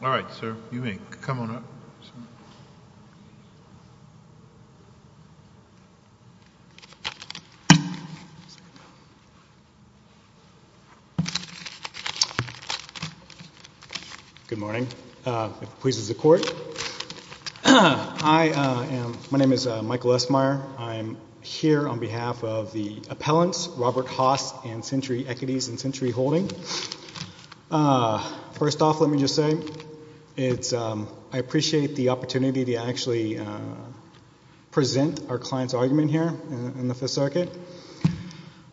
All right, sir, you may come on up. Good morning. If it pleases the court, my name is Michael Esmeyer. I'm here on behalf of the appellants, Robert Haas and Century Equities and Century Holding. First off, let me just say I appreciate the opportunity to actually present our client's argument here in the Fifth Circuit.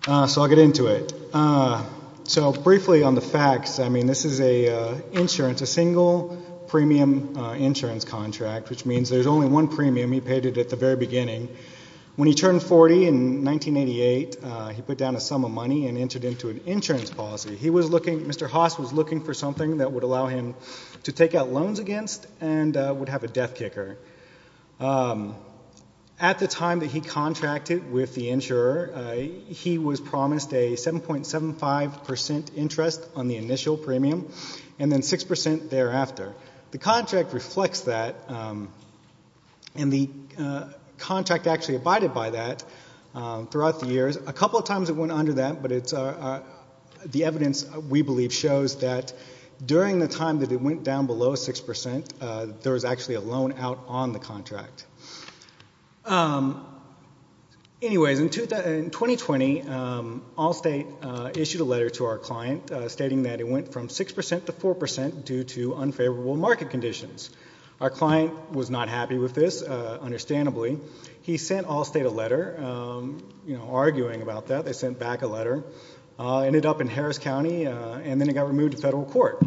So I'll get into it. So briefly on the facts, I mean, this is a insurance, a single premium insurance contract, which means there's only one premium. He paid it at the very beginning. When he turned 40 in 1988, he put down a sum of money and entered into an insurance policy. He was looking, Mr. Haas was looking for something that would allow him to take out loans against and would have a death kicker. At the time that he contracted with the insurer, he was promised a 7.75% interest on the initial premium and then 6% thereafter. The contract reflects that, and the contract actually abided by that throughout the years. A couple of times it went under that, but it's the evidence we believe shows that during the time that it went down below 6%, there was actually a loan out on the contract. Anyways, in 2020, Allstate issued a letter to our client stating that it went from 6% to 4% due to unfavorable market conditions. Our client was not happy with this, understandably. He sent Allstate a letter arguing about that. They sent back a letter. It ended up in Harris County, and then it got removed to federal court.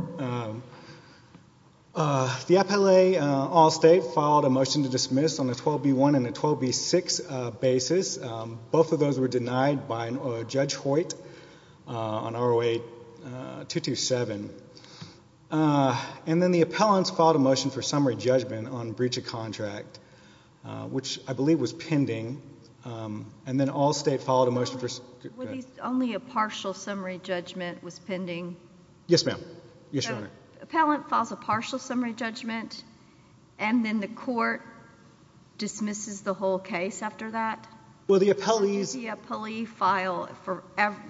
The appellate Allstate filed a motion to dismiss on a 12B1 and a 12B6 basis. Both of those were denied by Judge Hoyt on ROA 227. And then the appellants filed a motion for summary judgment on breach of contract, which I believe was pending. And then Allstate filed a motion for ‑‑ Only a partial summary judgment was pending. Yes, ma'am. Yes, Your Honor. The appellant files a partial summary judgment, and then the court dismisses the whole case after that? Well, the appellees ‑‑ Did the appellee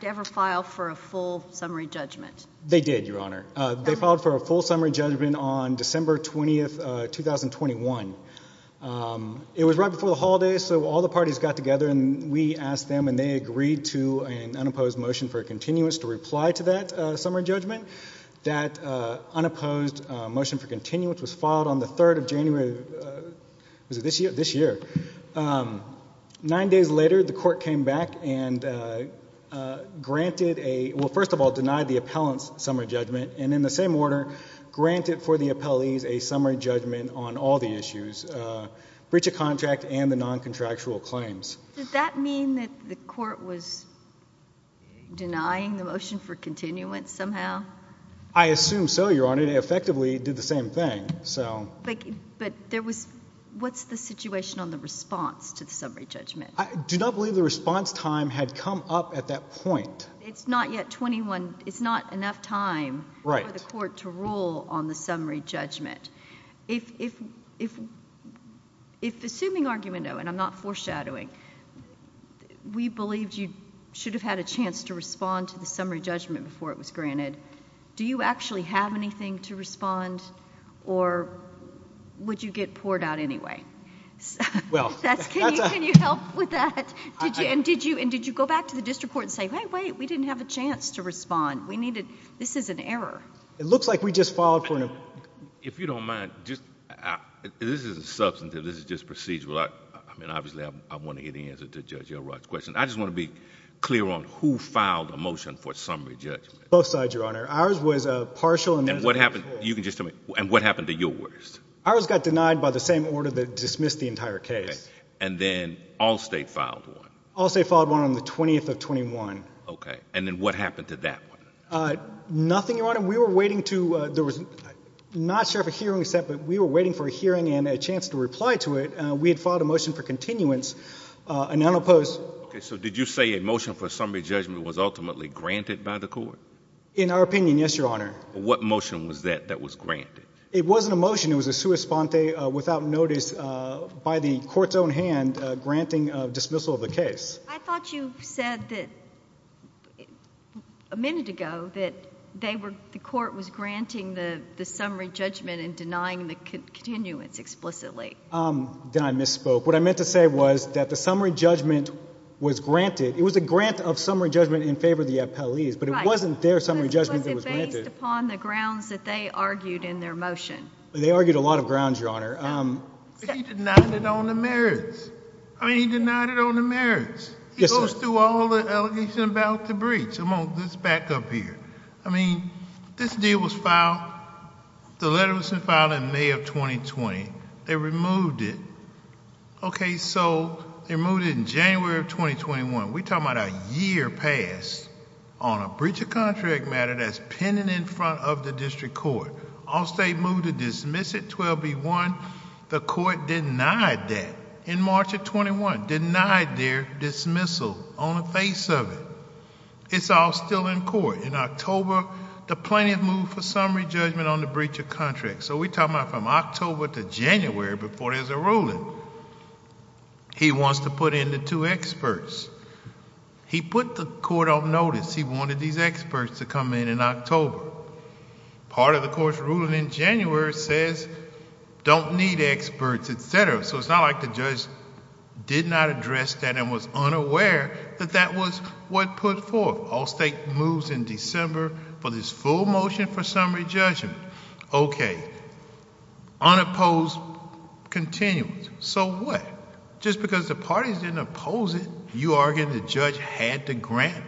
ever file for a full summary judgment? They did, Your Honor. They filed for a full summary judgment on December 20, 2021. It was right before the holidays, so all the parties got together, and we asked them, and they agreed to an unopposed motion for a continuance to reply to that summary judgment. That unopposed motion for continuance was filed on the 3rd of January ‑‑ was it this year? This year. Nine days later, the court came back and granted a ‑‑ well, first of all, denied the appellant's summary judgment, and in the same order granted for the appellees a summary judgment on all the issues, breach of contract and the noncontractual claims. Did that mean that the court was denying the motion for continuance somehow? I assume so, Your Honor. It effectively did the same thing, so ‑‑ But there was ‑‑ what's the situation on the response to the summary judgment? I do not believe the response time had come up at that point. It's not yet 21 ‑‑ it's not enough time for the court to rule on the summary judgment. If, assuming argument, though, and I'm not foreshadowing, we believed you should have had a chance to respond to the summary judgment before it was granted, do you actually have anything to respond, or would you get poured out anyway? Can you help with that? And did you go back to the district court and say, hey, wait, we didn't have a chance to respond. We needed ‑‑ this is an error. It looks like we just filed for an ‑‑ If you don't mind, this is a substantive, this is just procedural. I mean, obviously, I want to hear the answer to Judge Elrod's question. I just want to be clear on who filed a motion for a summary judgment. Both sides, Your Honor. Ours was a partial ‑‑ And what happened, you can just tell me, and what happened to yours? Ours got denied by the same order that dismissed the entire case. Okay. And then Allstate filed one. Allstate filed one on the 20th of 21. Okay. And then what happened to that one? Nothing, Your Honor. We were waiting to ‑‑ there was ‑‑ I'm not sure if a hearing was set, but we were waiting for a hearing and a chance to reply to it. We had filed a motion for continuance, and none opposed. Okay. So did you say a motion for a summary judgment was ultimately granted by the court? In our opinion, yes, Your Honor. What motion was that that was granted? It wasn't a motion. It was a sua sponte, without notice, by the court's own hand, granting dismissal of the case. I thought you said a minute ago that the court was granting the summary judgment and denying the continuance explicitly. Then I misspoke. What I meant to say was that the summary judgment was granted. It was a grant of summary judgment in favor of the appellees, but it wasn't their summary judgment that was granted. But was it based upon the grounds that they argued in their motion? They argued a lot of grounds, Your Honor. But he denied it on the merits. I mean, he denied it on the merits. He goes through all the allegations about the breach. Let's back up here. I mean, this deal was filed, the letter was filed in May of 2020. They removed it. Okay, so they removed it in January of 2021. We're talking about a year passed on a breach of contract matter that's pending in front of the district court. All state moved to dismiss it, 12B1. The court denied that. In March of 21, denied their dismissal on the face of it. It's all still in court. In October, the plaintiff moved for summary judgment on the breach of contract. So we're talking about from October to January before there's a ruling. He wants to put in the two experts. He put the court on notice. He wanted these experts to come in in October. So it's not like the judge did not address that and was unaware that that was what put forth. All state moves in December for this full motion for summary judgment. Okay. Unopposed continues. So what? Just because the parties didn't oppose it, you're arguing the judge had to grant it?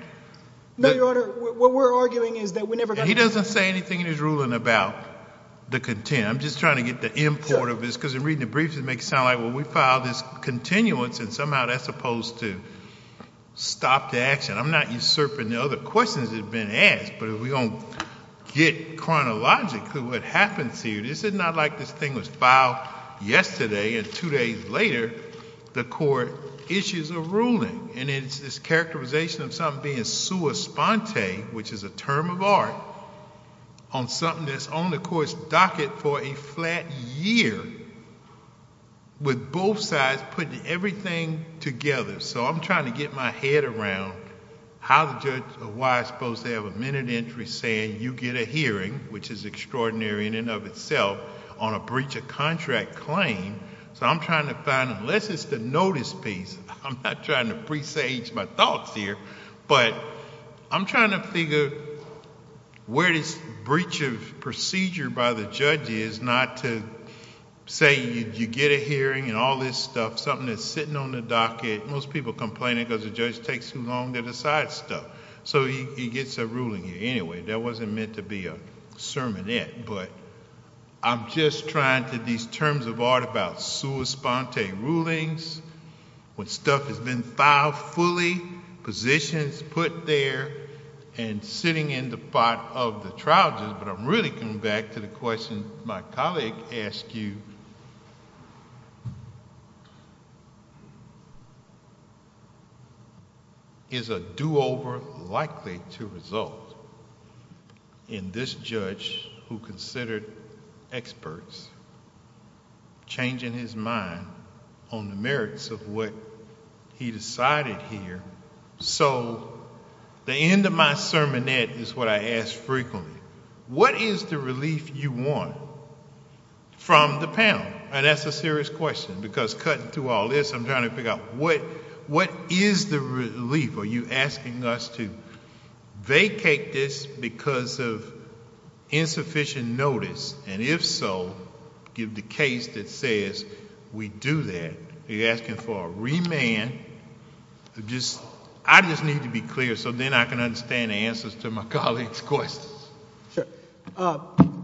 No, Your Honor. What we're arguing is that we never got to grant it. He doesn't say anything in his ruling about the content. I'm just trying to get the import of this because in reading the briefs it makes it sound like, well, we filed this continuance and somehow that's supposed to stop the action. I'm not usurping the other questions that have been asked, but if we don't get chronologically what happens here, this is not like this thing was filed yesterday and two days later the court issues a ruling. And it's this characterization of something being sua sponte, which is a term of art, on something that's on the court's docket for a flat year with both sides putting everything together. So I'm trying to get my head around how the judge, or why I'm supposed to have a minute entry saying you get a hearing, which is extraordinary in and of itself, on a breach of contract claim. So I'm trying to find, unless it's the notice piece, I'm not trying to presage my thoughts here, but I'm trying to figure where this breach of procedure by the judge is not to say you get a hearing and all this stuff, something that's sitting on the docket. Most people complain because the judge takes too long to decide stuff. So he gets a ruling here. Anyway, that wasn't meant to be a sermonette, but I'm just trying to, these terms of art about sua sponte rulings, when stuff has been filed fully, positions put there, and sitting in the spot of the trial judge. But I'm really coming back to the question my colleague asked you. Is a do-over likely to result in this judge, who considered experts, changing his mind on the merits of what he decided here? So the end of my sermonette is what I ask frequently. What is the relief you want from the panel? And that's a serious question, because cutting through all this, I'm trying to figure out what is the relief? Are you asking us to vacate this because of insufficient notice? And if so, give the case that says we do that. Are you asking for a remand? I just need to be clear so then I can understand the answers to my colleague's questions. Sure.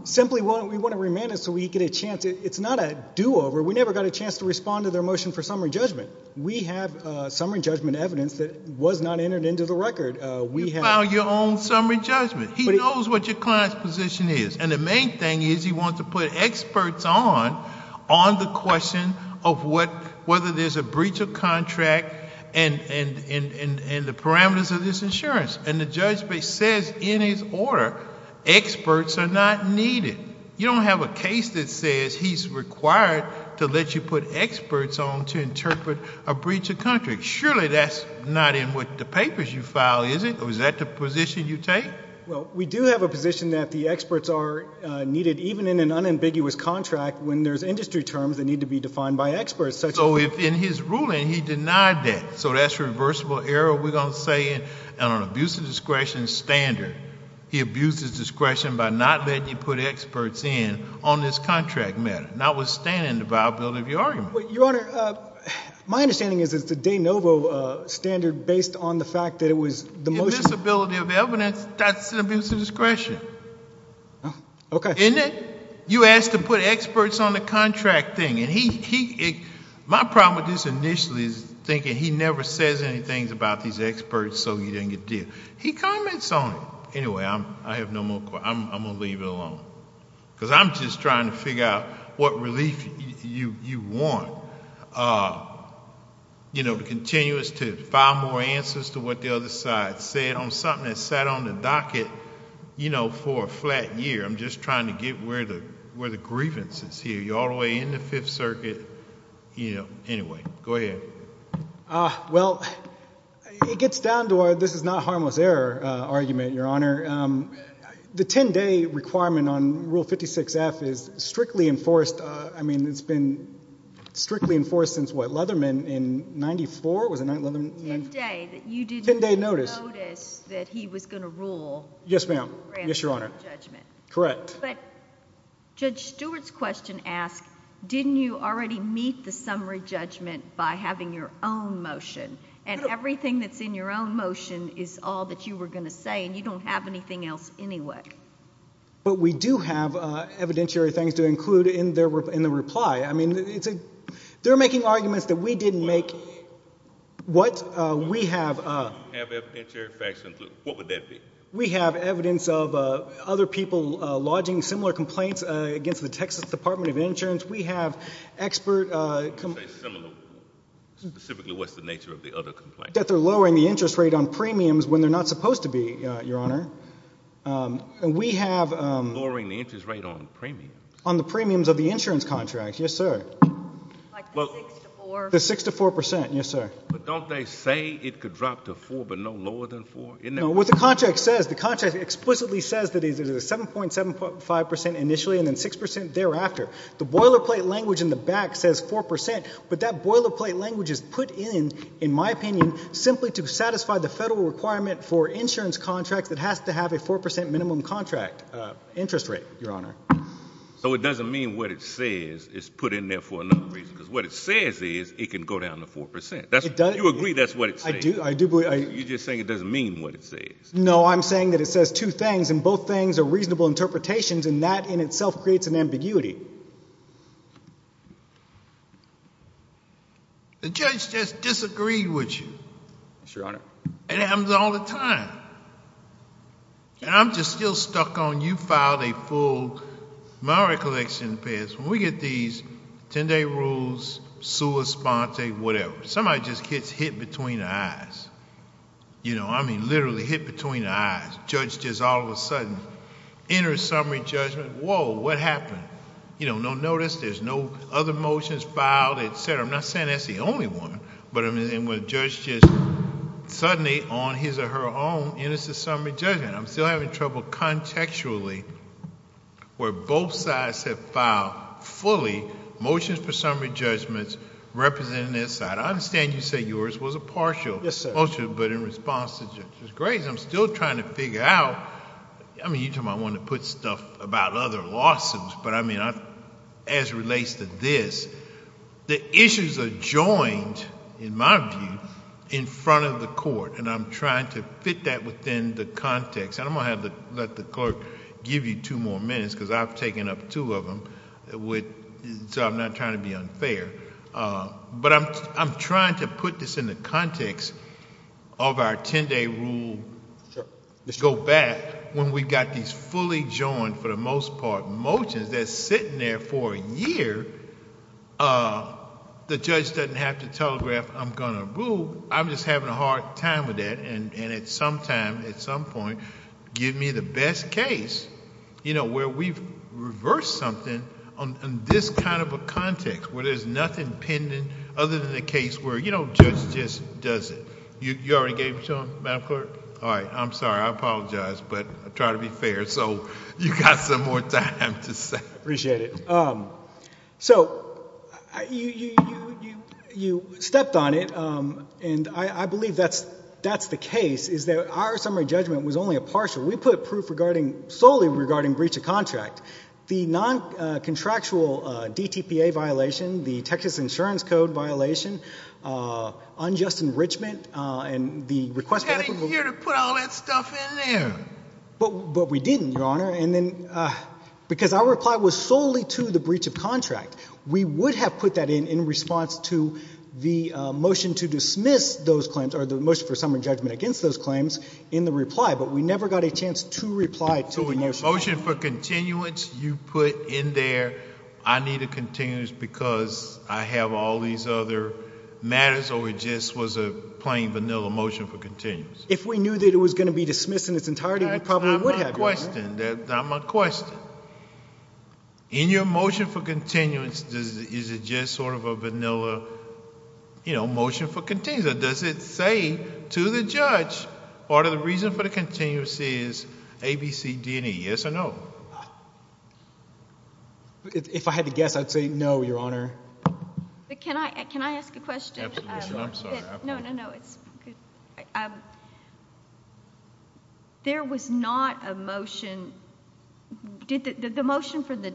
Simply, we want a remand so we get a chance. It's not a do-over. We never got a chance to respond to their motion for summary judgment. We have summary judgment evidence that was not entered into the record. You file your own summary judgment. He knows what your client's position is. And the main thing is he wants to put experts on on the question of whether there's a breach of contract and the parameters of this insurance. And the judge says in his order, experts are not needed. You don't have a case that says he's required to let you put experts on to interpret a breach of contract. Surely that's not in what the papers you file, is it? Or is that the position you take? Well, we do have a position that the experts are needed, even in an unambiguous contract, when there's industry terms that need to be defined by experts. So in his ruling, he denied that. So that's reversible error, we're going to say, and an abuse of discretion standard. He abused his discretion by not letting you put experts in on this contract matter, notwithstanding the viability of your argument. Your Honor, my understanding is it's the de novo standard based on the fact that it was the motion. Invisibility of evidence, that's an abuse of discretion. Okay. Isn't it? You asked to put experts on the contract thing. And my problem with this initially is thinking he never says anything about these experts so he didn't get did. He comments on it. Anyway, I have no more questions. I'm going to leave it alone. Because I'm just trying to figure out what relief you want. You know, to continue us to find more answers to what the other side said on something that sat on the docket, you know, for a flat year. I'm just trying to get where the grievance is here. You're all the way in the Fifth Circuit. Anyway, go ahead. Well, it gets down to our this-is-not-harmless-error argument, Your Honor. The 10-day requirement on Rule 56F is strictly enforced. I mean, it's been strictly enforced since what, Leatherman in 94? Was it Leatherman? 10-day. 10-day notice. That you didn't notice that he was going to rule. Yes, ma'am. Yes, Your Honor. Correct. But Judge Stewart's question asked, didn't you already meet the summary judgment by having your own motion? And everything that's in your own motion is all that you were going to say, and you don't have anything else anyway. But we do have evidentiary things to include in the reply. I mean, they're making arguments that we didn't make. What? We have... You have evidentiary facts included. What would that be? We have evidence of other people lodging similar complaints against the Texas Department of Insurance. We have expert... You say similar. Specifically, what's the nature of the other complaints? That they're lowering the interest rate on premiums when they're not supposed to be, Your Honor. And we have... Lowering the interest rate on premiums? On the premiums of the insurance contract, yes, sir. Like the 6 to 4? The 6 to 4 percent, yes, sir. But don't they say it could drop to 4 but no lower than 4? No, what the contract says, the contract explicitly says that it is a 7.75 percent initially and then 6 percent thereafter. The boilerplate language in the back says 4 percent, but that boilerplate language is put in, in my opinion, simply to satisfy the Federal requirement for insurance contracts that has to have a 4 percent minimum contract interest rate, Your Honor. So it doesn't mean what it says is put in there for another reason, because what it says is it can go down to 4 percent. You agree that's what it says? I do. You're just saying it doesn't mean what it says. No, I'm saying that it says two things, and both things are reasonable interpretations, and that in itself creates an ambiguity. The judge just disagreed with you. Yes, Your Honor. And it happens all the time. And I'm just still stuck on you filed a full Mowery collection pass. When we get these 10-day rules, sua sponte, whatever, somebody just gets hit between the eyes. I mean literally hit between the eyes. Judge just all of a sudden enters summary judgment, whoa, what happened? No notice, there's no other motions filed, et cetera. I'm not saying that's the only one, but a judge just suddenly on his or her own enters the summary judgment. I'm still having trouble contextually where both sides have filed fully motions for summary judgments representing their side. I understand you say yours was a partial motion, but in response to Judge Gray's, I'm still trying to figure out... I mean you're talking about wanting to put stuff about other lawsuits, but I mean as it relates to this, the issues are joined, in my view, in front of the court. And I'm trying to fit that within the context. And I'm going to let the clerk give you two more minutes, because I've taken up two of them, so I'm not trying to be unfair. But I'm trying to put this in the context of our 10-day rule. Let's go back when we've got these fully joined, for the most part, motions that are sitting there for a year. The judge doesn't have to telegraph, I'm going to rule. I'm just having a hard time with that. And at some time, at some point, give me the best case where we've reversed something in this kind of a context, where there's nothing pending other than the case where the judge just does it. You already gave it to him, Madam Clerk? All right, I'm sorry. I apologize, but I try to be fair, so you've got some more time to say. I appreciate it. So you stepped on it, and I believe that's the case, is that our summary judgment was only a partial. We put proof solely regarding breach of contract. The non-contractual DTPA violation, the Texas Insurance Code violation, unjust enrichment, and the request for equitable ---- You had a year to put all that stuff in there. But we didn't, Your Honor. Because our reply was solely to the breach of contract. We would have put that in in response to the motion to dismiss those claims or the motion for summary judgment against those claims in the reply, but we never got a chance to reply to the motion. So the motion for continuance you put in there, I need a continuance because I have all these other matters, or it just was a plain, vanilla motion for continuance? If we knew that it was going to be dismissed in its entirety, we probably would have, Your Honor. That's my question. In your motion for continuance, is it just sort of a vanilla motion for continuance, or does it say to the judge part of the reason for the continuance is A, B, C, D, and E? Yes or no? If I had to guess, I'd say no, Your Honor. Can I ask a question? Absolutely. I'm sorry. No, no, no. There was not a motion. The motion for the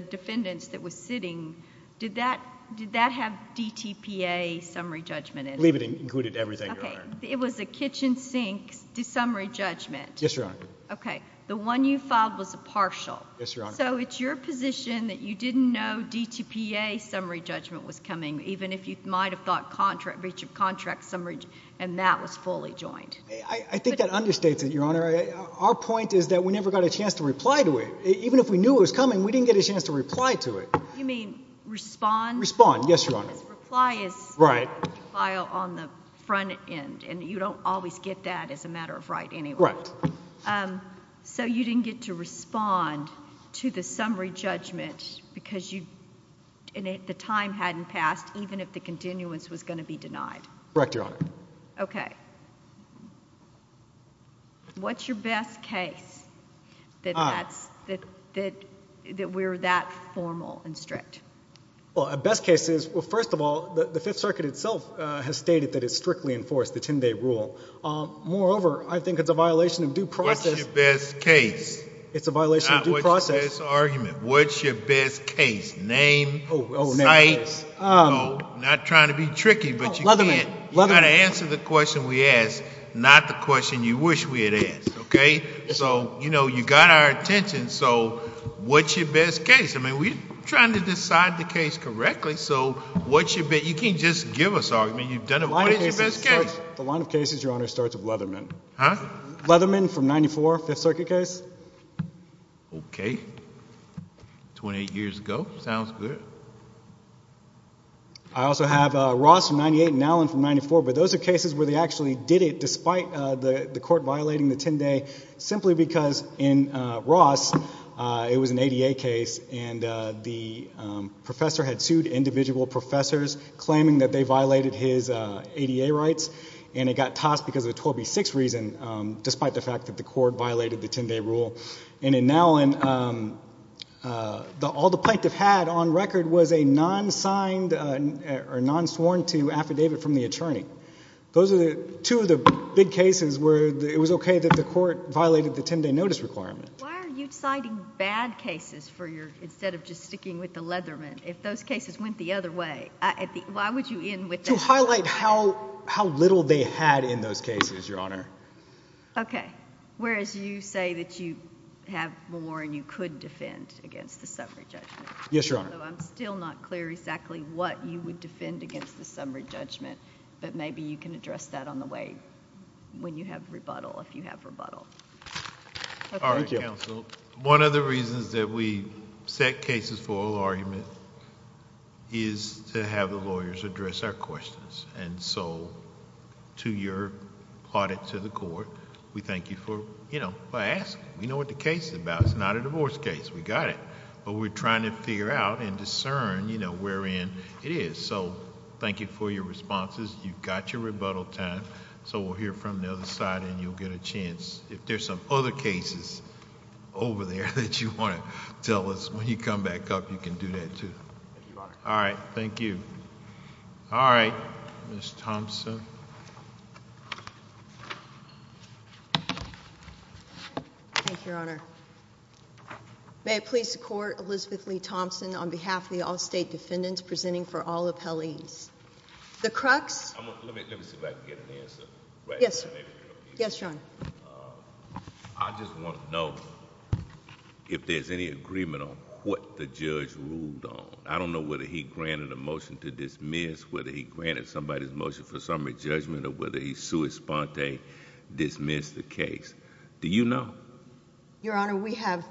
defendants that was sitting, did that have DTPA summary judgment in it? I believe it included everything, Your Honor. Okay. It was a kitchen sink summary judgment. Yes, Your Honor. Okay. The one you filed was a partial. Yes, Your Honor. So it's your position that you didn't know DTPA summary judgment was coming, even if you might have thought breach of contract summary, and that was fully joined? I think that understates it, Your Honor. Our point is that we never got a chance to reply to it. Even if we knew it was coming, we didn't get a chance to reply to it. You mean respond? Respond, yes, Your Honor. Because reply is filed on the front end, and you don't always get that as a matter of right anyway. Right. So you didn't get to respond to the summary judgment because the time hadn't passed, even if the continuance was going to be denied? Correct, Your Honor. Okay. What's your best case that we're that formal and strict? Well, our best case is, well, first of all, the Fifth Circuit itself has stated that it strictly enforced the 10-day rule. Moreover, I think it's a violation of due process. What's your best case? It's a violation of due process. Not what's your best argument. What's your best case? Name, site? No, not trying to be tricky, but you can't. Leatherman. You've got to answer the question we ask, not the question you wish we had asked, okay? So, you know, you got our attention, so what's your best case? I mean, we're trying to decide the case correctly, so what's your best case? You can't just give us arguments. You've done it. What is your best case? The line of cases, Your Honor, starts with Leatherman. Huh? Leatherman from 94, Fifth Circuit case. Okay. 28 years ago. Sounds good. I also have Ross from 98 and Allen from 94, but those are cases where they actually did it despite the court violating the 10-day simply because in Ross it was an ADA case and the professor had sued individual professors claiming that they violated his ADA rights and it got tossed because of a 12B6 reason despite the fact that the court violated the 10-day rule. And in Allen, all the plaintiff had on record was a non-signed or non-sworn-to affidavit from the attorney. Those are two of the big cases where it was okay that the court violated the 10-day notice requirement. Why are you citing bad cases instead of just sticking with the Leatherman? If those cases went the other way, why would you end with that? To highlight how little they had in those cases, Your Honor. Okay. Whereas you say that you have more and you could defend against the summary judgment. Yes, Your Honor. Although I'm still not clear exactly what you would defend against the summary judgment, but maybe you can address that on the way when you have rebuttal, if you have rebuttal. All right, counsel. One of the reasons that we set cases for oral argument is to have the lawyers address our questions. And so to your audit to the court, we thank you for asking. We know what the case is about. It's not a divorce case. We got it. But we're trying to figure out and discern wherein it is. So thank you for your responses. You've got your rebuttal time. So we'll hear from the other side and you'll get a chance. If there's some other cases over there that you want to tell us, when you come back up, you can do that too. Thank you, Your Honor. All right. Thank you. All right. Ms. Thompson. Thank you, Your Honor. May I please support Elizabeth Lee Thompson on behalf of the Allstate Defendants presenting for all appellees. The crux... Let me see if I can get an answer. Yes. Yes, Your Honor. I just want to know if there's any agreement on what the judge ruled on. I don't know whether he granted a motion to dismiss, whether he granted somebody's motion for summary judgment, or whether he sui sponte dismissed the case. Do you know? Your Honor, we have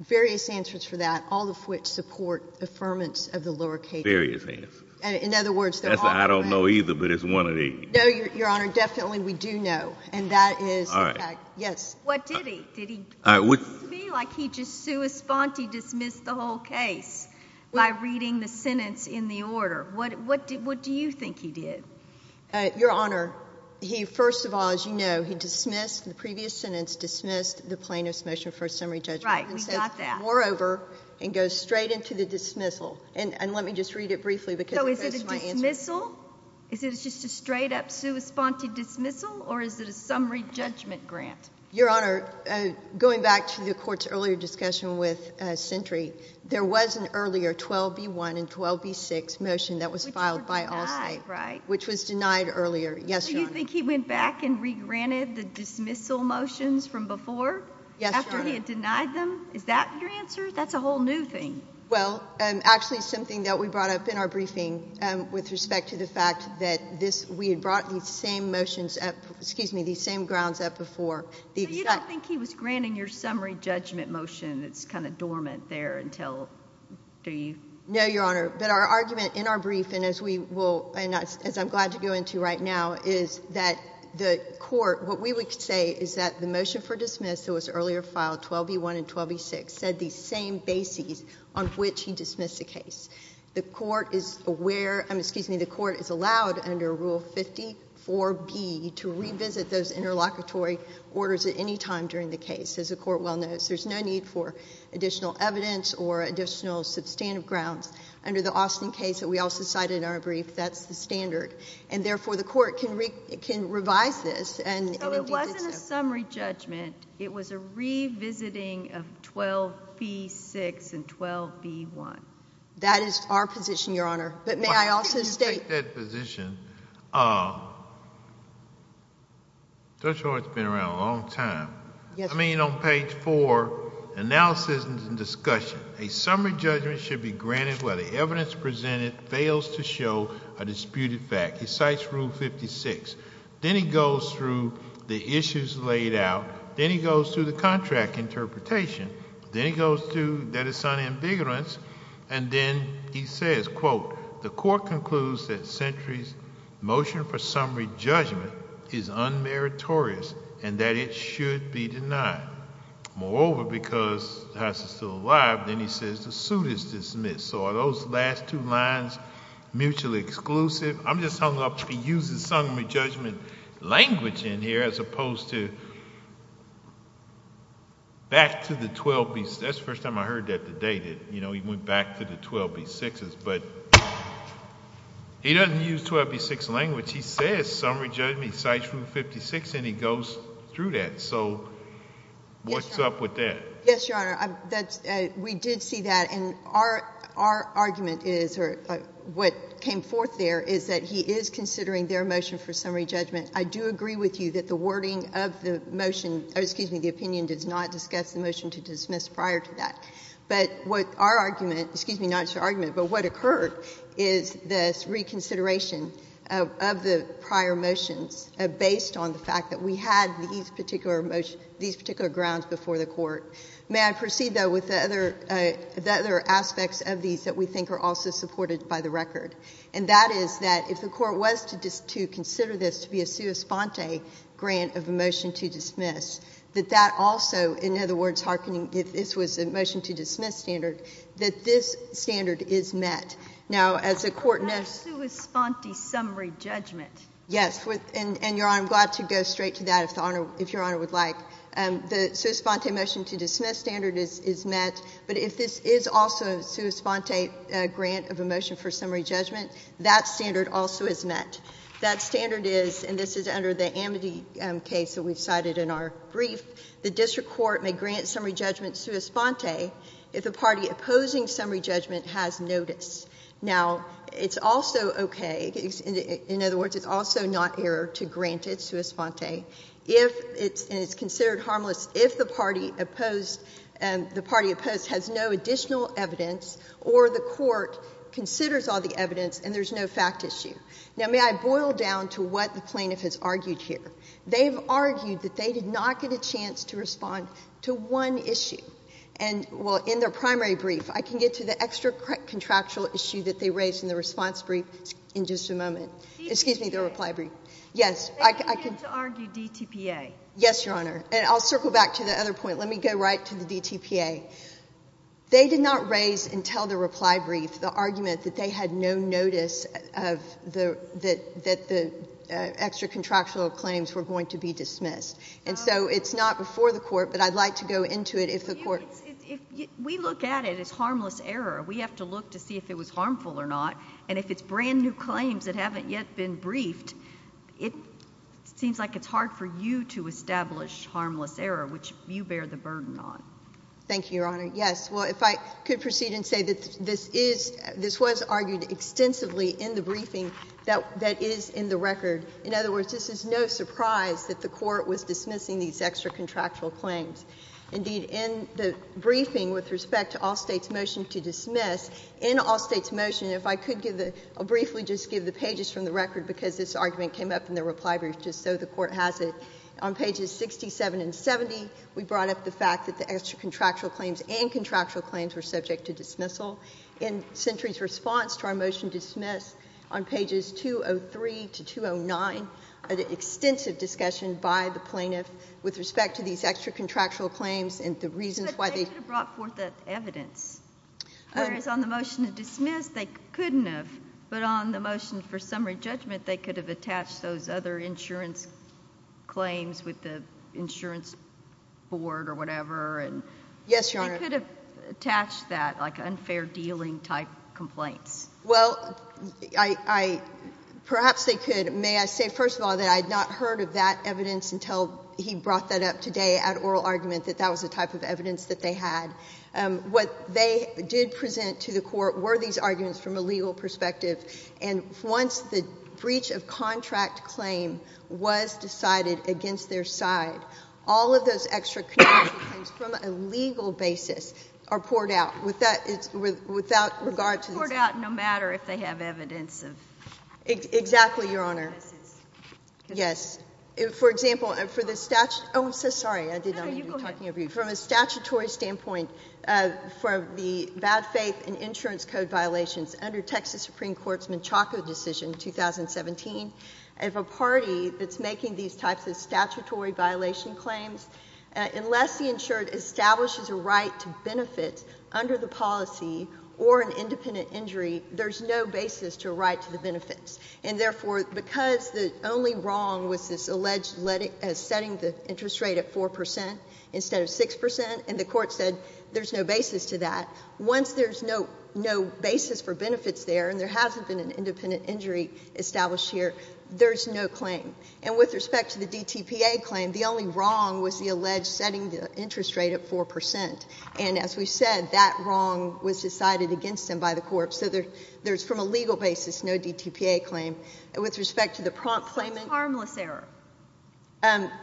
various answers for that, all of which support affirmance of the lower case. Various answers. In other words... I don't know either, but it's one of the... No, Your Honor, definitely we do know, and that is... All right. Yes. What did he? Did he dismiss me like he just sui sponte dismissed the whole case by reading the sentence in the order? What do you think he did? Your Honor, he, first of all, as you know, he dismissed the previous sentence, dismissed the plaintiff's motion for summary judgment. Right. We got that. Moreover, it goes straight into the dismissal. And let me just read it briefly because it goes to my answer. So is it a dismissal? Is it just a straight-up sui sponte dismissal, or is it a summary judgment grant? Your Honor, going back to the Court's earlier discussion with Sentry, there was an earlier 12B1 and 12B6 motion that was filed by Allstate... Which were denied, right? Which was denied earlier. Yes, Your Honor. So you think he went back and regranted the dismissal motions from before? Yes, Your Honor. After he had denied them? Is that your answer? That's a whole new thing. Well, actually, it's something that we brought up in our briefing with respect to the fact that we had brought these same motions up... excuse me, these same grounds up before. So you don't think he was granting your summary judgment motion? It's kind of dormant there until... No, Your Honor. But our argument in our brief, and as I'm glad to go into right now, is that the Court... What we would say is that the motion for dismissal, which was earlier filed, 12B1 and 12B6, said these same bases on which he dismissed the case. The Court is aware... excuse me, the Court is allowed under Rule 54B to revisit those interlocutory orders at any time during the case, as the Court well knows. There's no need for additional evidence or additional substantive grounds. Under the Austin case that we also cited in our brief, that's the standard. And, therefore, the Court can revise this... So it wasn't a summary judgment. It was a revisiting of 12B6 and 12B1. That is our position, Your Honor. But may I also state... Why don't you take that position? Judge Lloyd's been around a long time. I mean, on page 4, Analysis and Discussion, a summary judgment should be granted where the evidence presented fails to show a disputed fact. He cites Rule 56. Then he goes through the issues laid out. Then he goes through the contract interpretation. Then he goes through the dissonant invigorants. And then he says, quote, The Court concludes that Sentry's motion for summary judgment is unmeritorious and that it should be denied. Moreover, because the house is still alive, then he says the suit is dismissed. So are those last two lines mutually exclusive? I'm just hung up. He uses summary judgment language in here as opposed to back to the 12B6. That's the first time I heard that today. You know, he went back to the 12B6s. But he doesn't use 12B6 language. He says summary judgment, he cites Rule 56, and he goes through that. So what's up with that? Yes, Your Honor. We did see that. And our argument is, or what came forth there, is that he is considering their motion for summary judgment. I do agree with you that the wording of the motion, excuse me, the opinion does not discuss the motion to dismiss prior to that. But what our argument, excuse me, not your argument, but what occurred is this reconsideration of the prior motions based on the fact that we had these particular grounds before the Court. May I proceed, though, with the other aspects of these that we think are also supported by the record? And that is that if the Court was to consider this to be a sua sponte grant of a motion to dismiss, that that also, in other words, if this was a motion to dismiss standard, that this standard is met. Now, as the Court knows — But that's sua sponte summary judgment. Yes. And, Your Honor, I'm glad to go straight to that if Your Honor would like. The sua sponte motion to dismiss standard is met, but if this is also a sua sponte grant of a motion for summary judgment, that standard also is met. That standard is, and this is under the Amity case that we cited in our brief, the district court may grant summary judgment sua sponte if the party opposing summary judgment has notice. Now, it's also okay, in other words, it's also not error to grant it sua sponte if it's considered harmless if the party opposed has no additional evidence or the Court considers all the evidence and there's no fact issue. Now, may I boil down to what the plaintiff has argued here? They've argued that they did not get a chance to respond to one issue. And, well, in their primary brief, I can get to the extra contractual issue that they raised in the response brief in just a moment. Excuse me, the reply brief. Yes, I can. They didn't get to argue DTPA. Yes, Your Honor. And I'll circle back to the other point. Let me go right to the DTPA. They did not raise until the reply brief the argument that they had no notice that the extra contractual claims were going to be dismissed. And so it's not before the Court, but I'd like to go into it if the Court. We look at it as harmless error. We have to look to see if it was harmful or not. And if it's brand new claims that haven't yet been briefed, it seems like it's hard for you to establish harmless error, which you bear the burden on. Thank you, Your Honor. Yes, well, if I could proceed and say that this was argued extensively in the briefing that is in the record. In other words, this is no surprise that the Court was dismissing these extra contractual claims. Indeed, in the briefing with respect to all states' motion to dismiss, in all states' motion, if I could give the – I'll briefly just give the pages from the record because this argument came up in the reply brief just so the Court has it. On pages 67 and 70, we brought up the fact that the extra contractual claims and contractual claims were subject to dismissal. In Sentry's response to our motion to dismiss on pages 203 to 209, an extensive discussion by the plaintiff with respect to these extra contractual claims and the reasons why they – But they could have brought forth that evidence. Whereas on the motion to dismiss, they couldn't have. But on the motion for summary judgment, they could have attached those other insurance claims with the insurance board or whatever. Yes, Your Honor. They could have attached that, like unfair dealing type complaints. Well, I – perhaps they could. May I say, first of all, that I had not heard of that evidence until he brought that up today at oral argument, that that was the type of evidence that they had. What they did present to the Court were these arguments from a legal perspective. And once the breach of contract claim was decided against their side, all of those extra contractual claims from a legal basis are poured out without regard to the statute. Poured out no matter if they have evidence of – Exactly, Your Honor. Yes. For example, for the statute – Oh, I'm so sorry. I did not mean to be talking over you. No, you go ahead. From a statutory standpoint, for the bad faith and insurance code violations under Texas Supreme Court's Menchaca decision in 2017, if a party that's making these types of statutory violation claims, unless the insured establishes a right to benefit under the policy or an independent injury, there's no basis to a right to the benefits. And therefore, because the only wrong was this alleged setting the interest rate at 4 percent instead of 6 percent, and the Court said there's no basis to that, once there's no basis for benefits there and there hasn't been an independent injury established here, there's no claim. And with respect to the DTPA claim, the only wrong was the alleged setting the interest rate at 4 percent. And as we said, that wrong was decided against them by the Court. So there's from a legal basis no DTPA claim. That's harmless error.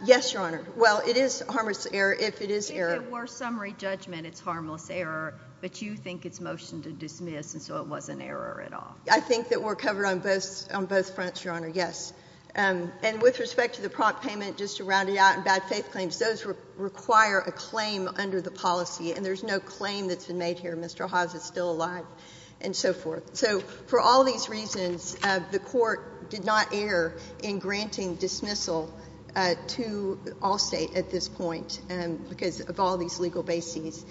Yes, Your Honor. Well, it is harmless error if it is error. If it were summary judgment it's harmless error, but you think it's motion to dismiss and so it wasn't error at all. I think that we're covered on both fronts, Your Honor, yes. And with respect to the prompt payment, just to round it out, and bad faith claims, those require a claim under the policy, and there's no claim that's been made here. Mr. Haas is still alive and so forth. So for all these reasons, the Court did not err in granting dismissal to Allstate at this point because of all these legal bases.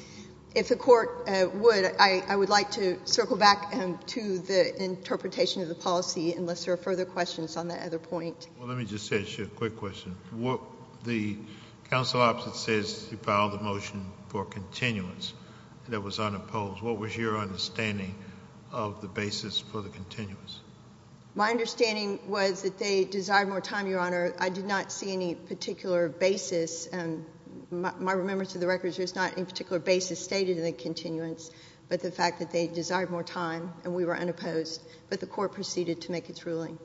If the Court would, I would like to circle back to the interpretation of the policy unless there are further questions on that other point. Well, let me just ask you a quick question. The counsel opposite says he filed the motion for continuance and it was unopposed. What was your understanding of the basis for the continuance? My understanding was that they desired more time, Your Honor. I did not see any particular basis, and my remembrance of the record is there's not any particular basis stated in the continuance, but the fact that they desired more time and we were unopposed. But the Court proceeded to make its ruling.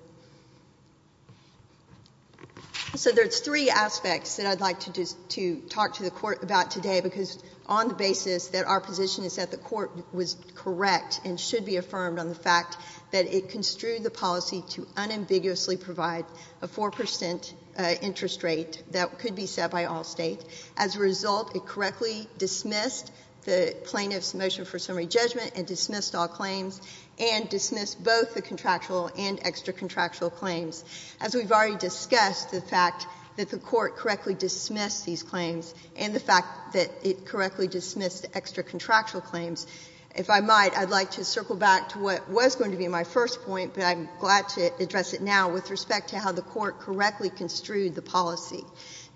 So there's three aspects that I'd like to talk to the Court about today because on the basis that our position is that the Court was correct and should be affirmed on the fact that it construed the policy to unambiguously provide a 4% interest rate that could be set by Allstate. As a result, it correctly dismissed the plaintiff's motion for summary judgment and dismissed all claims and dismissed both the contractual and extra-contractual claims. As we've already discussed, the fact that the Court correctly dismissed these claims and the fact that it correctly dismissed extra-contractual claims, if I might, I'd like to circle back to what was going to be my first point, but I'm glad to address it now, with respect to how the Court correctly construed the policy.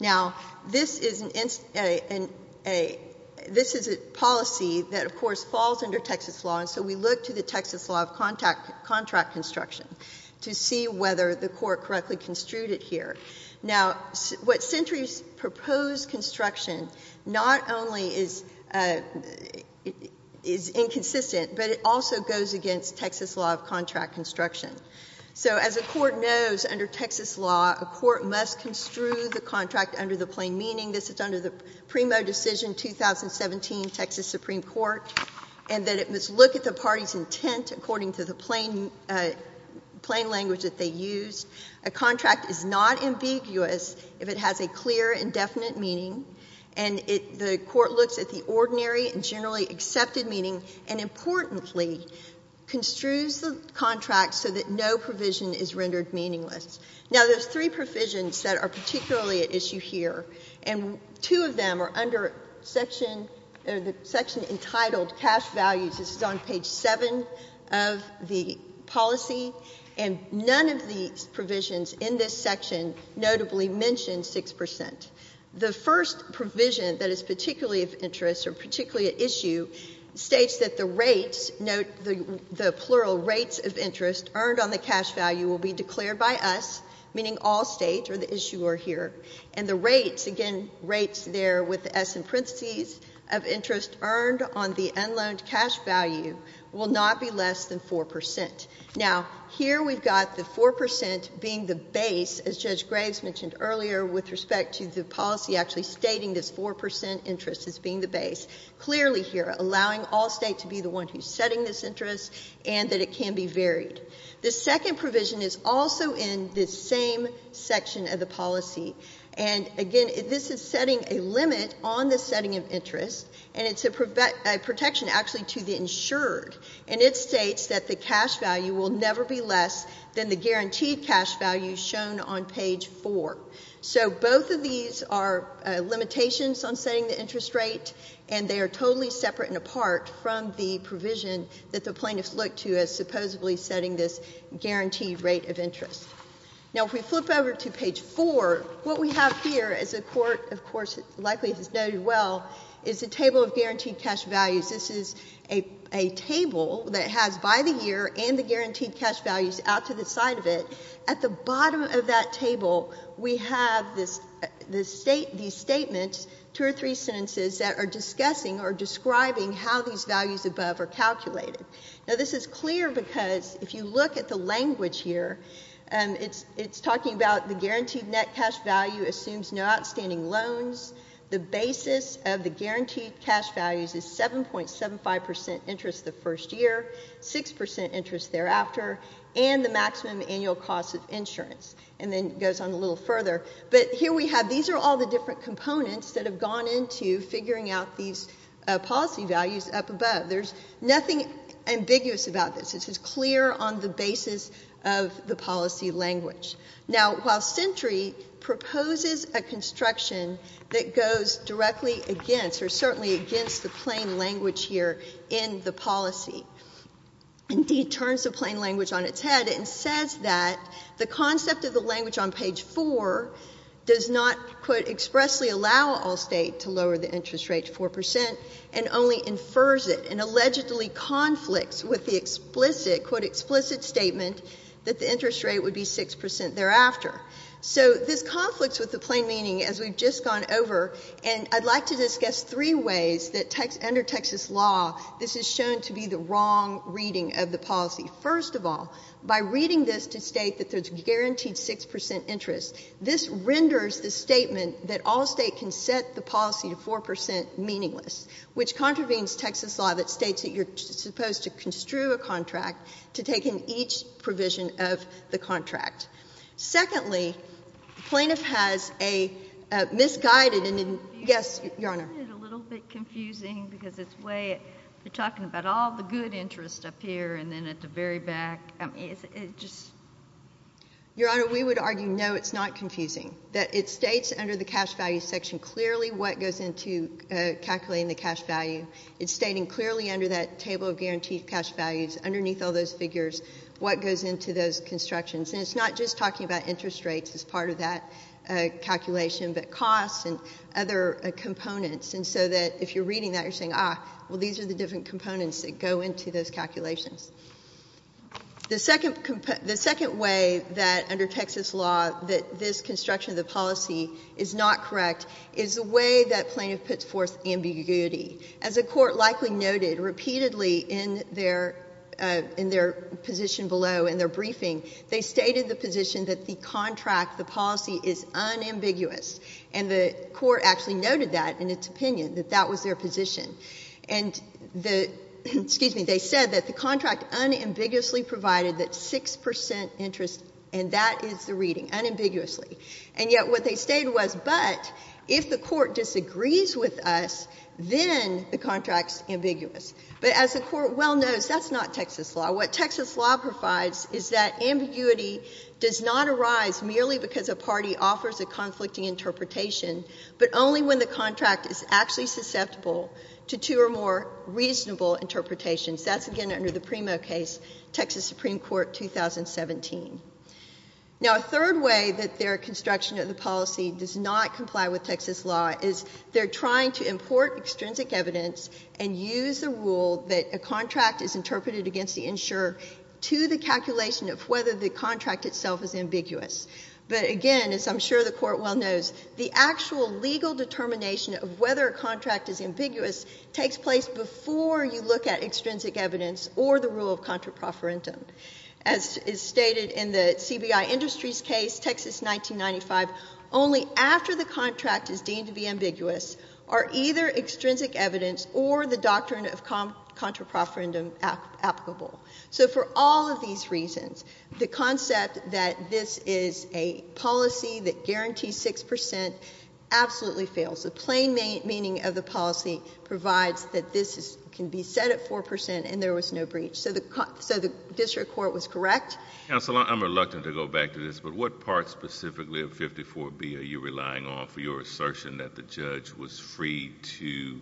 Now, this is a policy that, of course, falls under Texas law, and so we look to the Texas law of contract construction to see whether the Court correctly construed it here. Now, what Sentry's proposed construction not only is inconsistent, but it also goes against Texas law of contract construction. So as the Court knows, under Texas law, a court must construe the contract under the plain meaning this is under the PRIMO decision 2017, Texas Supreme Court, and that it must look at the party's intent according to the plain language that they used. A contract is not ambiguous if it has a clear and definite meaning, and the Court looks at the ordinary and generally accepted meaning and, importantly, construes the contract so that no provision is rendered meaningless. Now, there's three provisions that are particularly at issue here, and two of them are under the section entitled cash values. This is on page 7 of the policy, and none of these provisions in this section notably mention 6%. The first provision that is particularly of interest or particularly at issue states that the rates, note the plural rates of interest earned on the cash value, will be declared by us, meaning all states, or the issuer here, and the rates, again, rates there with the S in parentheses, of interest earned on the unloaned cash value will not be less than 4%. Now, here we've got the 4% being the base, as Judge Graves mentioned earlier, with respect to the policy actually stating this 4% interest as being the base, clearly here allowing all states to be the one who's setting this interest and that it can be varied. The second provision is also in this same section of the policy, and, again, this is setting a limit on the setting of interest, and it's a protection actually to the insured, and it states that the cash value will never be less than the guaranteed cash value shown on page 4. So both of these are limitations on setting the interest rate, and they are totally separate and apart from the provision that the plaintiffs look to as supposedly setting this guaranteed rate of interest. Now, if we flip over to page 4, what we have here is a court, of course, likely has noted well, is a table of guaranteed cash values. This is a table that has by the year and the guaranteed cash values out to the side of it. At the bottom of that table, we have these statements, two or three sentences that are discussing or describing how these values above are calculated. Now, this is clear because if you look at the language here, it's talking about the guaranteed net cash value assumes no outstanding loans. The basis of the guaranteed cash values is 7.75% interest the first year, 6% interest thereafter, and the maximum annual cost of insurance, and then it goes on a little further. But here we have... These are all the different components that have gone into figuring out these policy values up above. There's nothing ambiguous about this. This is clear on the basis of the policy language. Now, while Sentry proposes a construction that goes directly against or certainly against the plain language here in the policy, indeed turns the plain language on its head and says that the concept of the language on page 4 does not, quote, expressly allow all State to lower the interest rate to 4% and only infers it and allegedly conflicts with the explicit, quote, explicit statement that the interest rate would be 6% thereafter. So this conflicts with the plain meaning, as we've just gone over, and I'd like to discuss three ways that under Texas law this is shown to be the wrong reading of the policy. First of all, by reading this to state that there's guaranteed 6% interest, this renders the statement that all State can set the policy to 4% meaningless, which contravenes Texas law that states that you're supposed to construe a contract to take in each provision of the contract. Secondly, the plaintiff has a misguided... Yes, Your Honor. Isn't it a little bit confusing because it's way... You're talking about all the good interest up here and then at the very back. I mean, is it just... Your Honor, we would argue, no, it's not confusing, that it states under the cash value section clearly what goes into calculating the cash value. It's stating clearly under that table of guaranteed cash values, underneath all those figures, what goes into those constructions. And it's not just talking about interest rates as part of that calculation, but costs and other components. And so that if you're reading that, you're saying, ah, well, these are the different components that go into those calculations. The second way that under Texas law that this construction of the policy is not correct is the way that plaintiff puts forth ambiguity. As the Court likely noted repeatedly in their position below in their briefing, they stated the position that the contract, the policy, is unambiguous. And the Court actually noted that in its opinion, that that was their position. And the... Excuse me. They said that the contract unambiguously provided that 6% interest, and that is the reading, unambiguously. And yet what they stated was, but if the Court disagrees with us, then the contract's ambiguous. But as the Court well knows, that's not Texas law. What Texas law provides is that ambiguity does not arise merely because a party offers a conflicting interpretation, but only when the contract is actually susceptible to two or more reasonable interpretations. That's, again, under the Primo case, Texas Supreme Court, 2017. Now, a third way that their construction of the policy does not comply with Texas law is they're trying to import extrinsic evidence and use the rule that a contract is interpreted against the insurer to the calculation of whether the contract itself is ambiguous. But again, as I'm sure the Court well knows, the actual legal determination of whether a contract is ambiguous takes place before you look at extrinsic evidence or the rule of contraproferendum. As is stated in the CBI Industries case, Texas 1995, only after the contract is deemed to be ambiguous are either extrinsic evidence or the doctrine of contraproferendum applicable. So for all of these reasons, the concept that this is a policy that guarantees 6% absolutely fails. The plain meaning of the policy provides that this can be set at 4% and there was no breach. So the district court was correct. Counsel, I'm reluctant to go back to this, but what part specifically of 54B are you relying on for your assertion that the judge was free to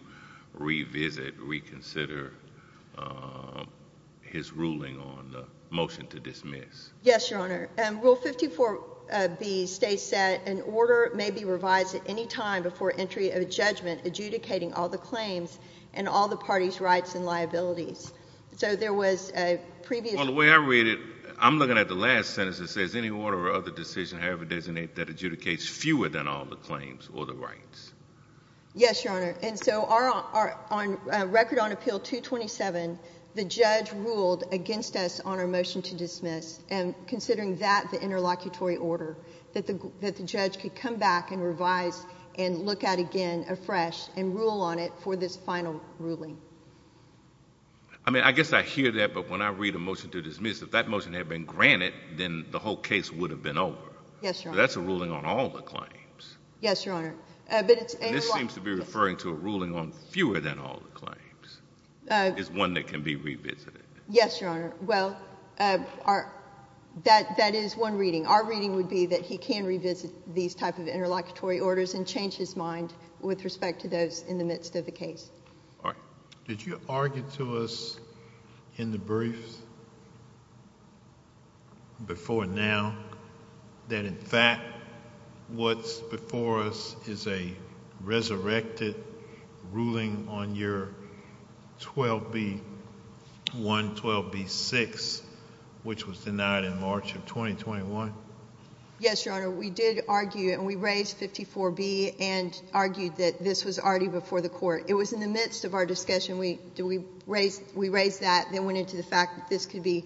revisit, reconsider his ruling on the motion to dismiss? Yes, Your Honor. Rule 54B states that an order may be revised at any time before entry of a judgment adjudicating all the claims and all the parties' rights and liabilities. So there was a previous... Well, the way I read it, I'm looking at the last sentence. It says, Any order or other decision, however designated, that adjudicates fewer than all the claims or the rights. Yes, Your Honor. And so on record on Appeal 227, the judge ruled against us on our motion to dismiss, and considering that the interlocutory order, that the judge could come back and revise and look at again afresh and rule on it for this final ruling. I mean, I guess I hear that, but when I read a motion to dismiss, if that motion had been granted, then the whole case would have been over. Yes, Your Honor. But that's a ruling on all the claims. Yes, Your Honor. And this seems to be referring to a ruling on fewer than all the claims. It's one that can be revisited. Yes, Your Honor. Well, that is one reading. Our reading would be that he can revisit these type of interlocutory orders and change his mind with respect to those in the midst of the case. All right. Did you argue to us in the briefs before now that in fact what's before us is a resurrected ruling on your 12B1, 12B6, which was denied in March of 2021? Yes, Your Honor. We did argue, and we raised 54B and argued that this was already before the court. It was in the midst of our discussion. We raised that, then went into the fact that this could be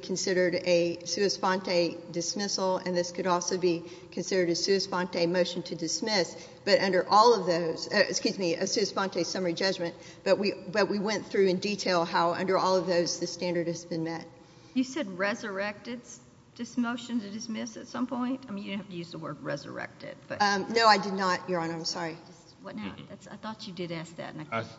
considered a sua sponte dismissal, and this could also be considered a sua sponte motion to dismiss. But under all of those, excuse me, a sua sponte summary judgment, but we went through in detail how under all of those the standard has been met. You said resurrected this motion to dismiss at some point? I mean, you didn't have to use the word resurrected. No, I did not, Your Honor. I'm sorry. I thought you did ask that.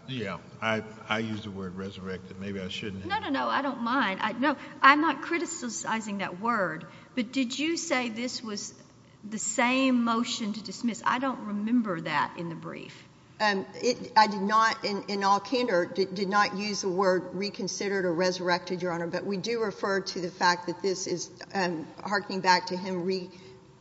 Yeah, I used the word resurrected. Maybe I shouldn't have. No, no, no, I don't mind. No, I'm not criticizing that word, but did you say this was the same motion to dismiss? I don't remember that in the brief. I did not, in all candor, did not use the word reconsidered or resurrected, Your Honor, but we do refer to the fact that this is harkening back to him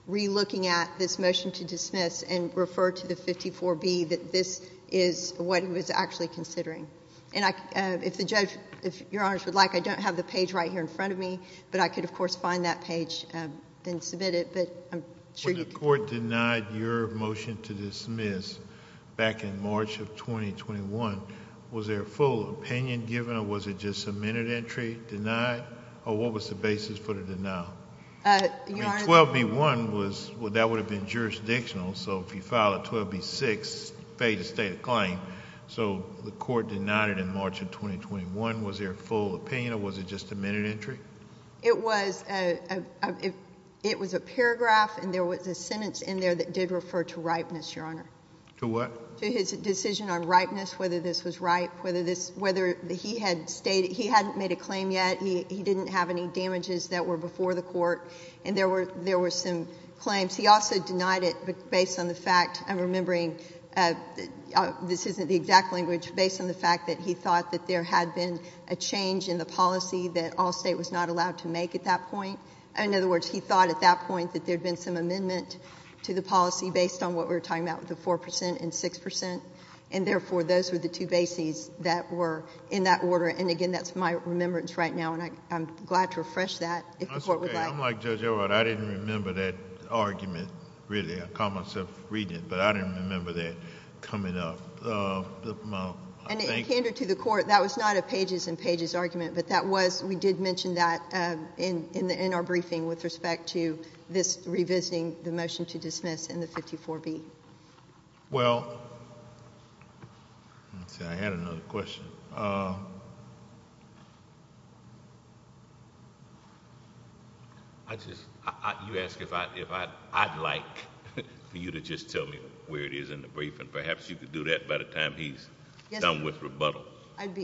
re-looking at this motion to dismiss and refer to the 54B that this is what he was actually considering. And if the judge, if Your Honor would like, I don't have the page right here in front of me, but I could, of course, find that page and submit it, but I'm sure you could. When the court denied your motion to dismiss back in March of 2021, was there a full opinion given or was it just a minute entry denied or what was the basis for the denial? I mean, 12B1, that would have been jurisdictional, so if you file a 12B6, fade the stated claim. So the court denied it in March of 2021. Was there a full opinion or was it just a minute entry? It was a paragraph and there was a sentence in there that did refer to ripeness, Your Honor. To what? To his decision on ripeness, whether this was ripe, whether he hadn't made a claim yet, he didn't have any damages that were before the court, and there were some claims. He also denied it based on the fact, I'm remembering, this isn't the exact language, based on the fact that he thought that there had been a change in the policy that Allstate was not allowed to make at that point. In other words, he thought at that point that there had been some amendment to the policy based on what we were talking about with the 4% and 6%, and therefore those were the two bases that were in that order, and again, that's my remembrance right now, and I'm glad to refresh that if the court would like. I'm like Judge Overholt. I didn't remember that argument, really. I caught myself reading it, but I didn't remember that coming up. And in candor to the court, that was not a pages and pages argument, but we did mention that in our briefing with respect to this revisiting the motion to dismiss in the 54B. Well, let's see. I had another question. I just... You asked if I'd like for you to just tell me where it is in the briefing. Perhaps you could do that by the time he's done with rebuttal. I'd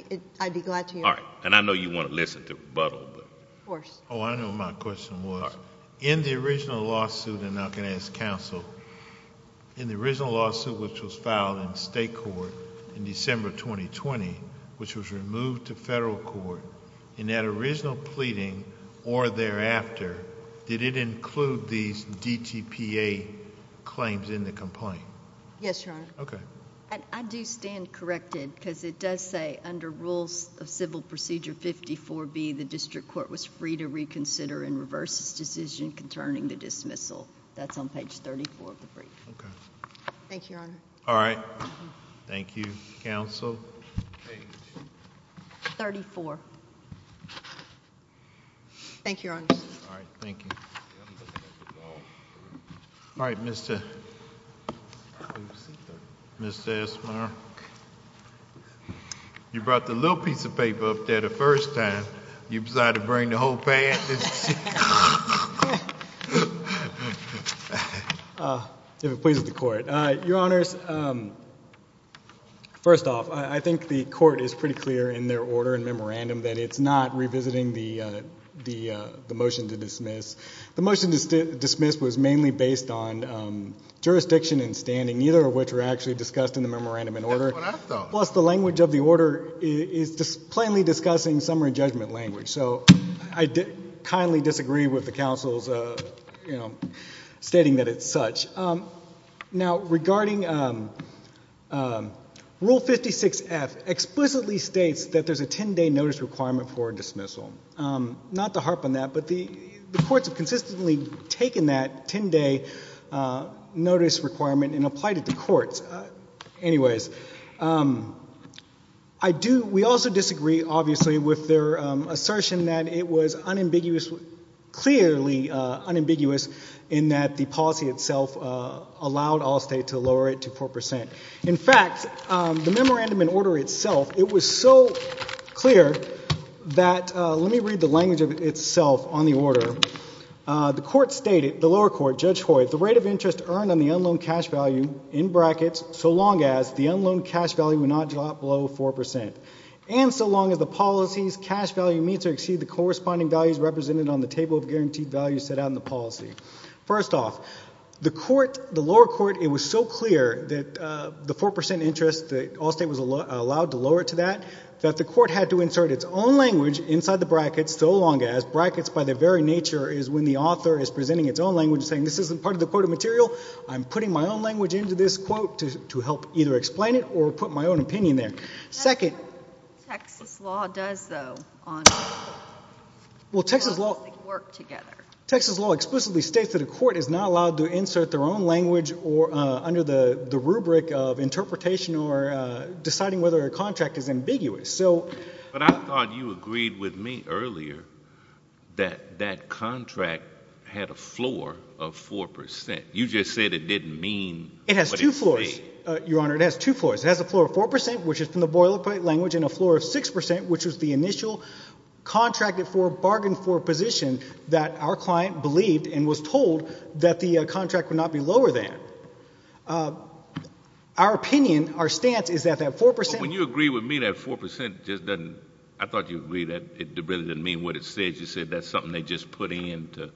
be glad to hear it. All right. And I know you want to listen to rebuttal, but... Of course. Oh, I know what my question was. All right. In the original lawsuit, and I can ask counsel, in the original lawsuit which was filed in state court in December 2020, which was removed to federal court, in that original pleading or thereafter, did it include these DGPA claims in the complaint? Yes, Your Honor. Okay. I do stand corrected because it does say under rules of civil procedure 54B, the district court was free to reconsider and reverse its decision concerning the dismissal. That's on page 34 of the briefing. Okay. Thank you, Your Honor. All right. Thank you, counsel. Page... 34. Thank you, Your Honor. All right. Thank you. All right. Mr.... Mr. Esmar. You brought the little piece of paper up there the first time. You decided to bring the whole pad? If it pleases the court. Your Honors, first off, I think the court is pretty clear in their order and memorandum that it's not revisiting the motion to dismiss. The motion to dismiss was mainly based on jurisdiction and standing, neither of which were actually discussed in the memorandum and order. That's what I thought. Plus the language of the order is plainly discussing summary judgment language. So I kindly disagree with the counsel's stating that it's such. Now, regarding Rule 56F, explicitly states that there's a 10-day notice requirement for dismissal. Not to harp on that, but the courts have consistently taken that 10-day notice requirement and applied it to courts. Anyways, I do... We also disagree, obviously, with their assertion that it was unambiguous... allowed Allstate to lower it to 4%. In fact, the memorandum in order itself, it was so clear that... Let me read the language of itself on the order. The court stated, the lower court, Judge Hoyt, the rate of interest earned on the unloaned cash value, in brackets, so long as the unloaned cash value would not drop below 4% and so long as the policy's cash value meets or exceeds the corresponding values represented on the table of guaranteed values set out in the policy. First off, the court, the lower court, it was so clear that the 4% interest, that Allstate was allowed to lower it to that, that the court had to insert its own language inside the brackets, so long as brackets, by their very nature, is when the author is presenting its own language, saying this isn't part of the quoted material. I'm putting my own language into this quote to help either explain it or put my own opinion there. Second... That's what Texas law does, though, on... Well, Texas law...... because they work together. Texas law explicitly states that a court is not allowed to insert their own language under the rubric of interpretation or deciding whether a contract is ambiguous, so... But I thought you agreed with me earlier that that contract had a floor of 4%. You just said it didn't mean... It has two floors, Your Honor. It has two floors. It has a floor of 4%, which is from the boilerplate language, and a floor of 6%, which was the initial contracted for, that our client believed and was told that the contract would not be lower than. Our opinion, our stance, is that that 4%... But when you agree with me that 4% just doesn't... I thought you agreed that it really didn't mean what it said. You said that's something they just put in to,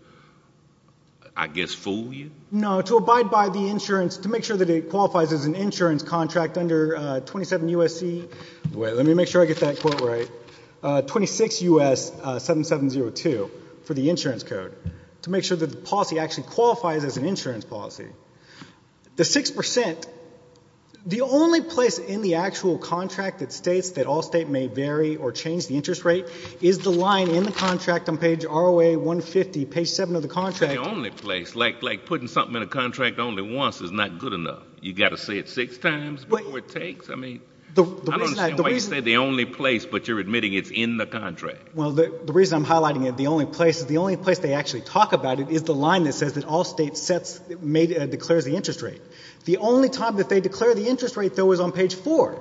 I guess, fool you? No, to abide by the insurance... to make sure that it qualifies as an insurance contract under 27 U.S.C.... Let me make sure I get that quote right. 26 U.S. 7702 for the insurance code to make sure that the policy actually qualifies as an insurance policy. The 6%, the only place in the actual contract that states that all state may vary or change the interest rate is the line in the contract on page ROA 150, page 7 of the contract. But the only place, like putting something in a contract only once is not good enough. You've got to say it six times before it takes? I don't understand why you say the only place, but you're admitting it's in the contract. Well, the reason I'm highlighting the only place is the only place they actually talk about it is the line that says that all states declare the interest rate. The only time that they declare the interest rate, though, is on page 4.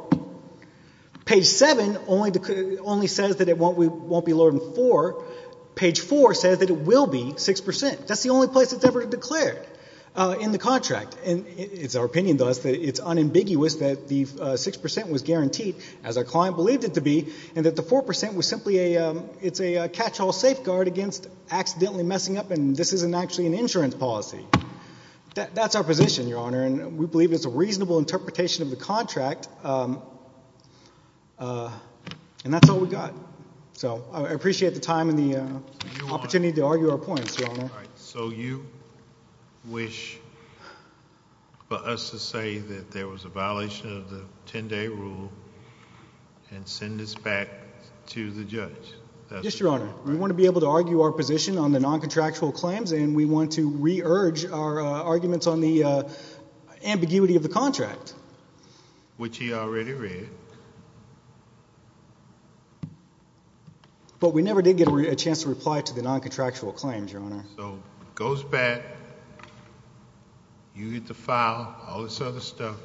Page 7 only says that it won't be lower than 4. Page 4 says that it will be 6%. That's the only place it's ever declared in the contract. And it's our opinion, thus, that it's unambiguous that the 6% was guaranteed, as our client believed it to be, and that the 4% was simply a catch-all safeguard against accidentally messing up and this isn't actually an insurance policy. That's our position, Your Honor, and we believe it's a reasonable interpretation of the contract. And that's all we've got. So I appreciate the time and the opportunity to argue our points, Your Honor. So you wish for us to say that there was a violation of the 10-day rule and send this back to the judge? Yes, Your Honor. We want to be able to argue our position on the noncontractual claims and we want to re-urge our arguments on the ambiguity of the contract. Which he already read. But we never did get a chance to reply to the noncontractual claims, Your Honor. So it goes back, you get the file, all this other stuff.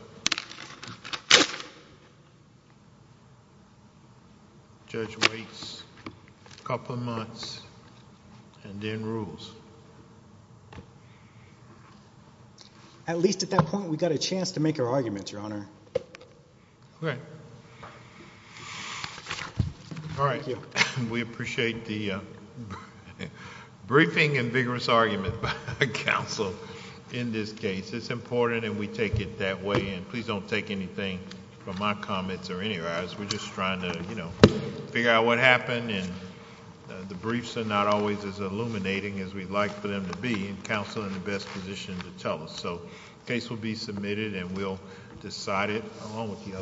The judge waits a couple of months and then rules. At least at that point we got a chance to make our arguments, Your Honor. Okay. All right. We appreciate the briefing and vigorous argument by counsel in this case. It's important and we take it that way and please don't take anything from my comments or any of ours. We're just trying to figure out what happened and the briefs are not always as illuminating as we'd like for them to be and counsel in the best position to tell us. So the case will be submitted and we'll decide it along with the others.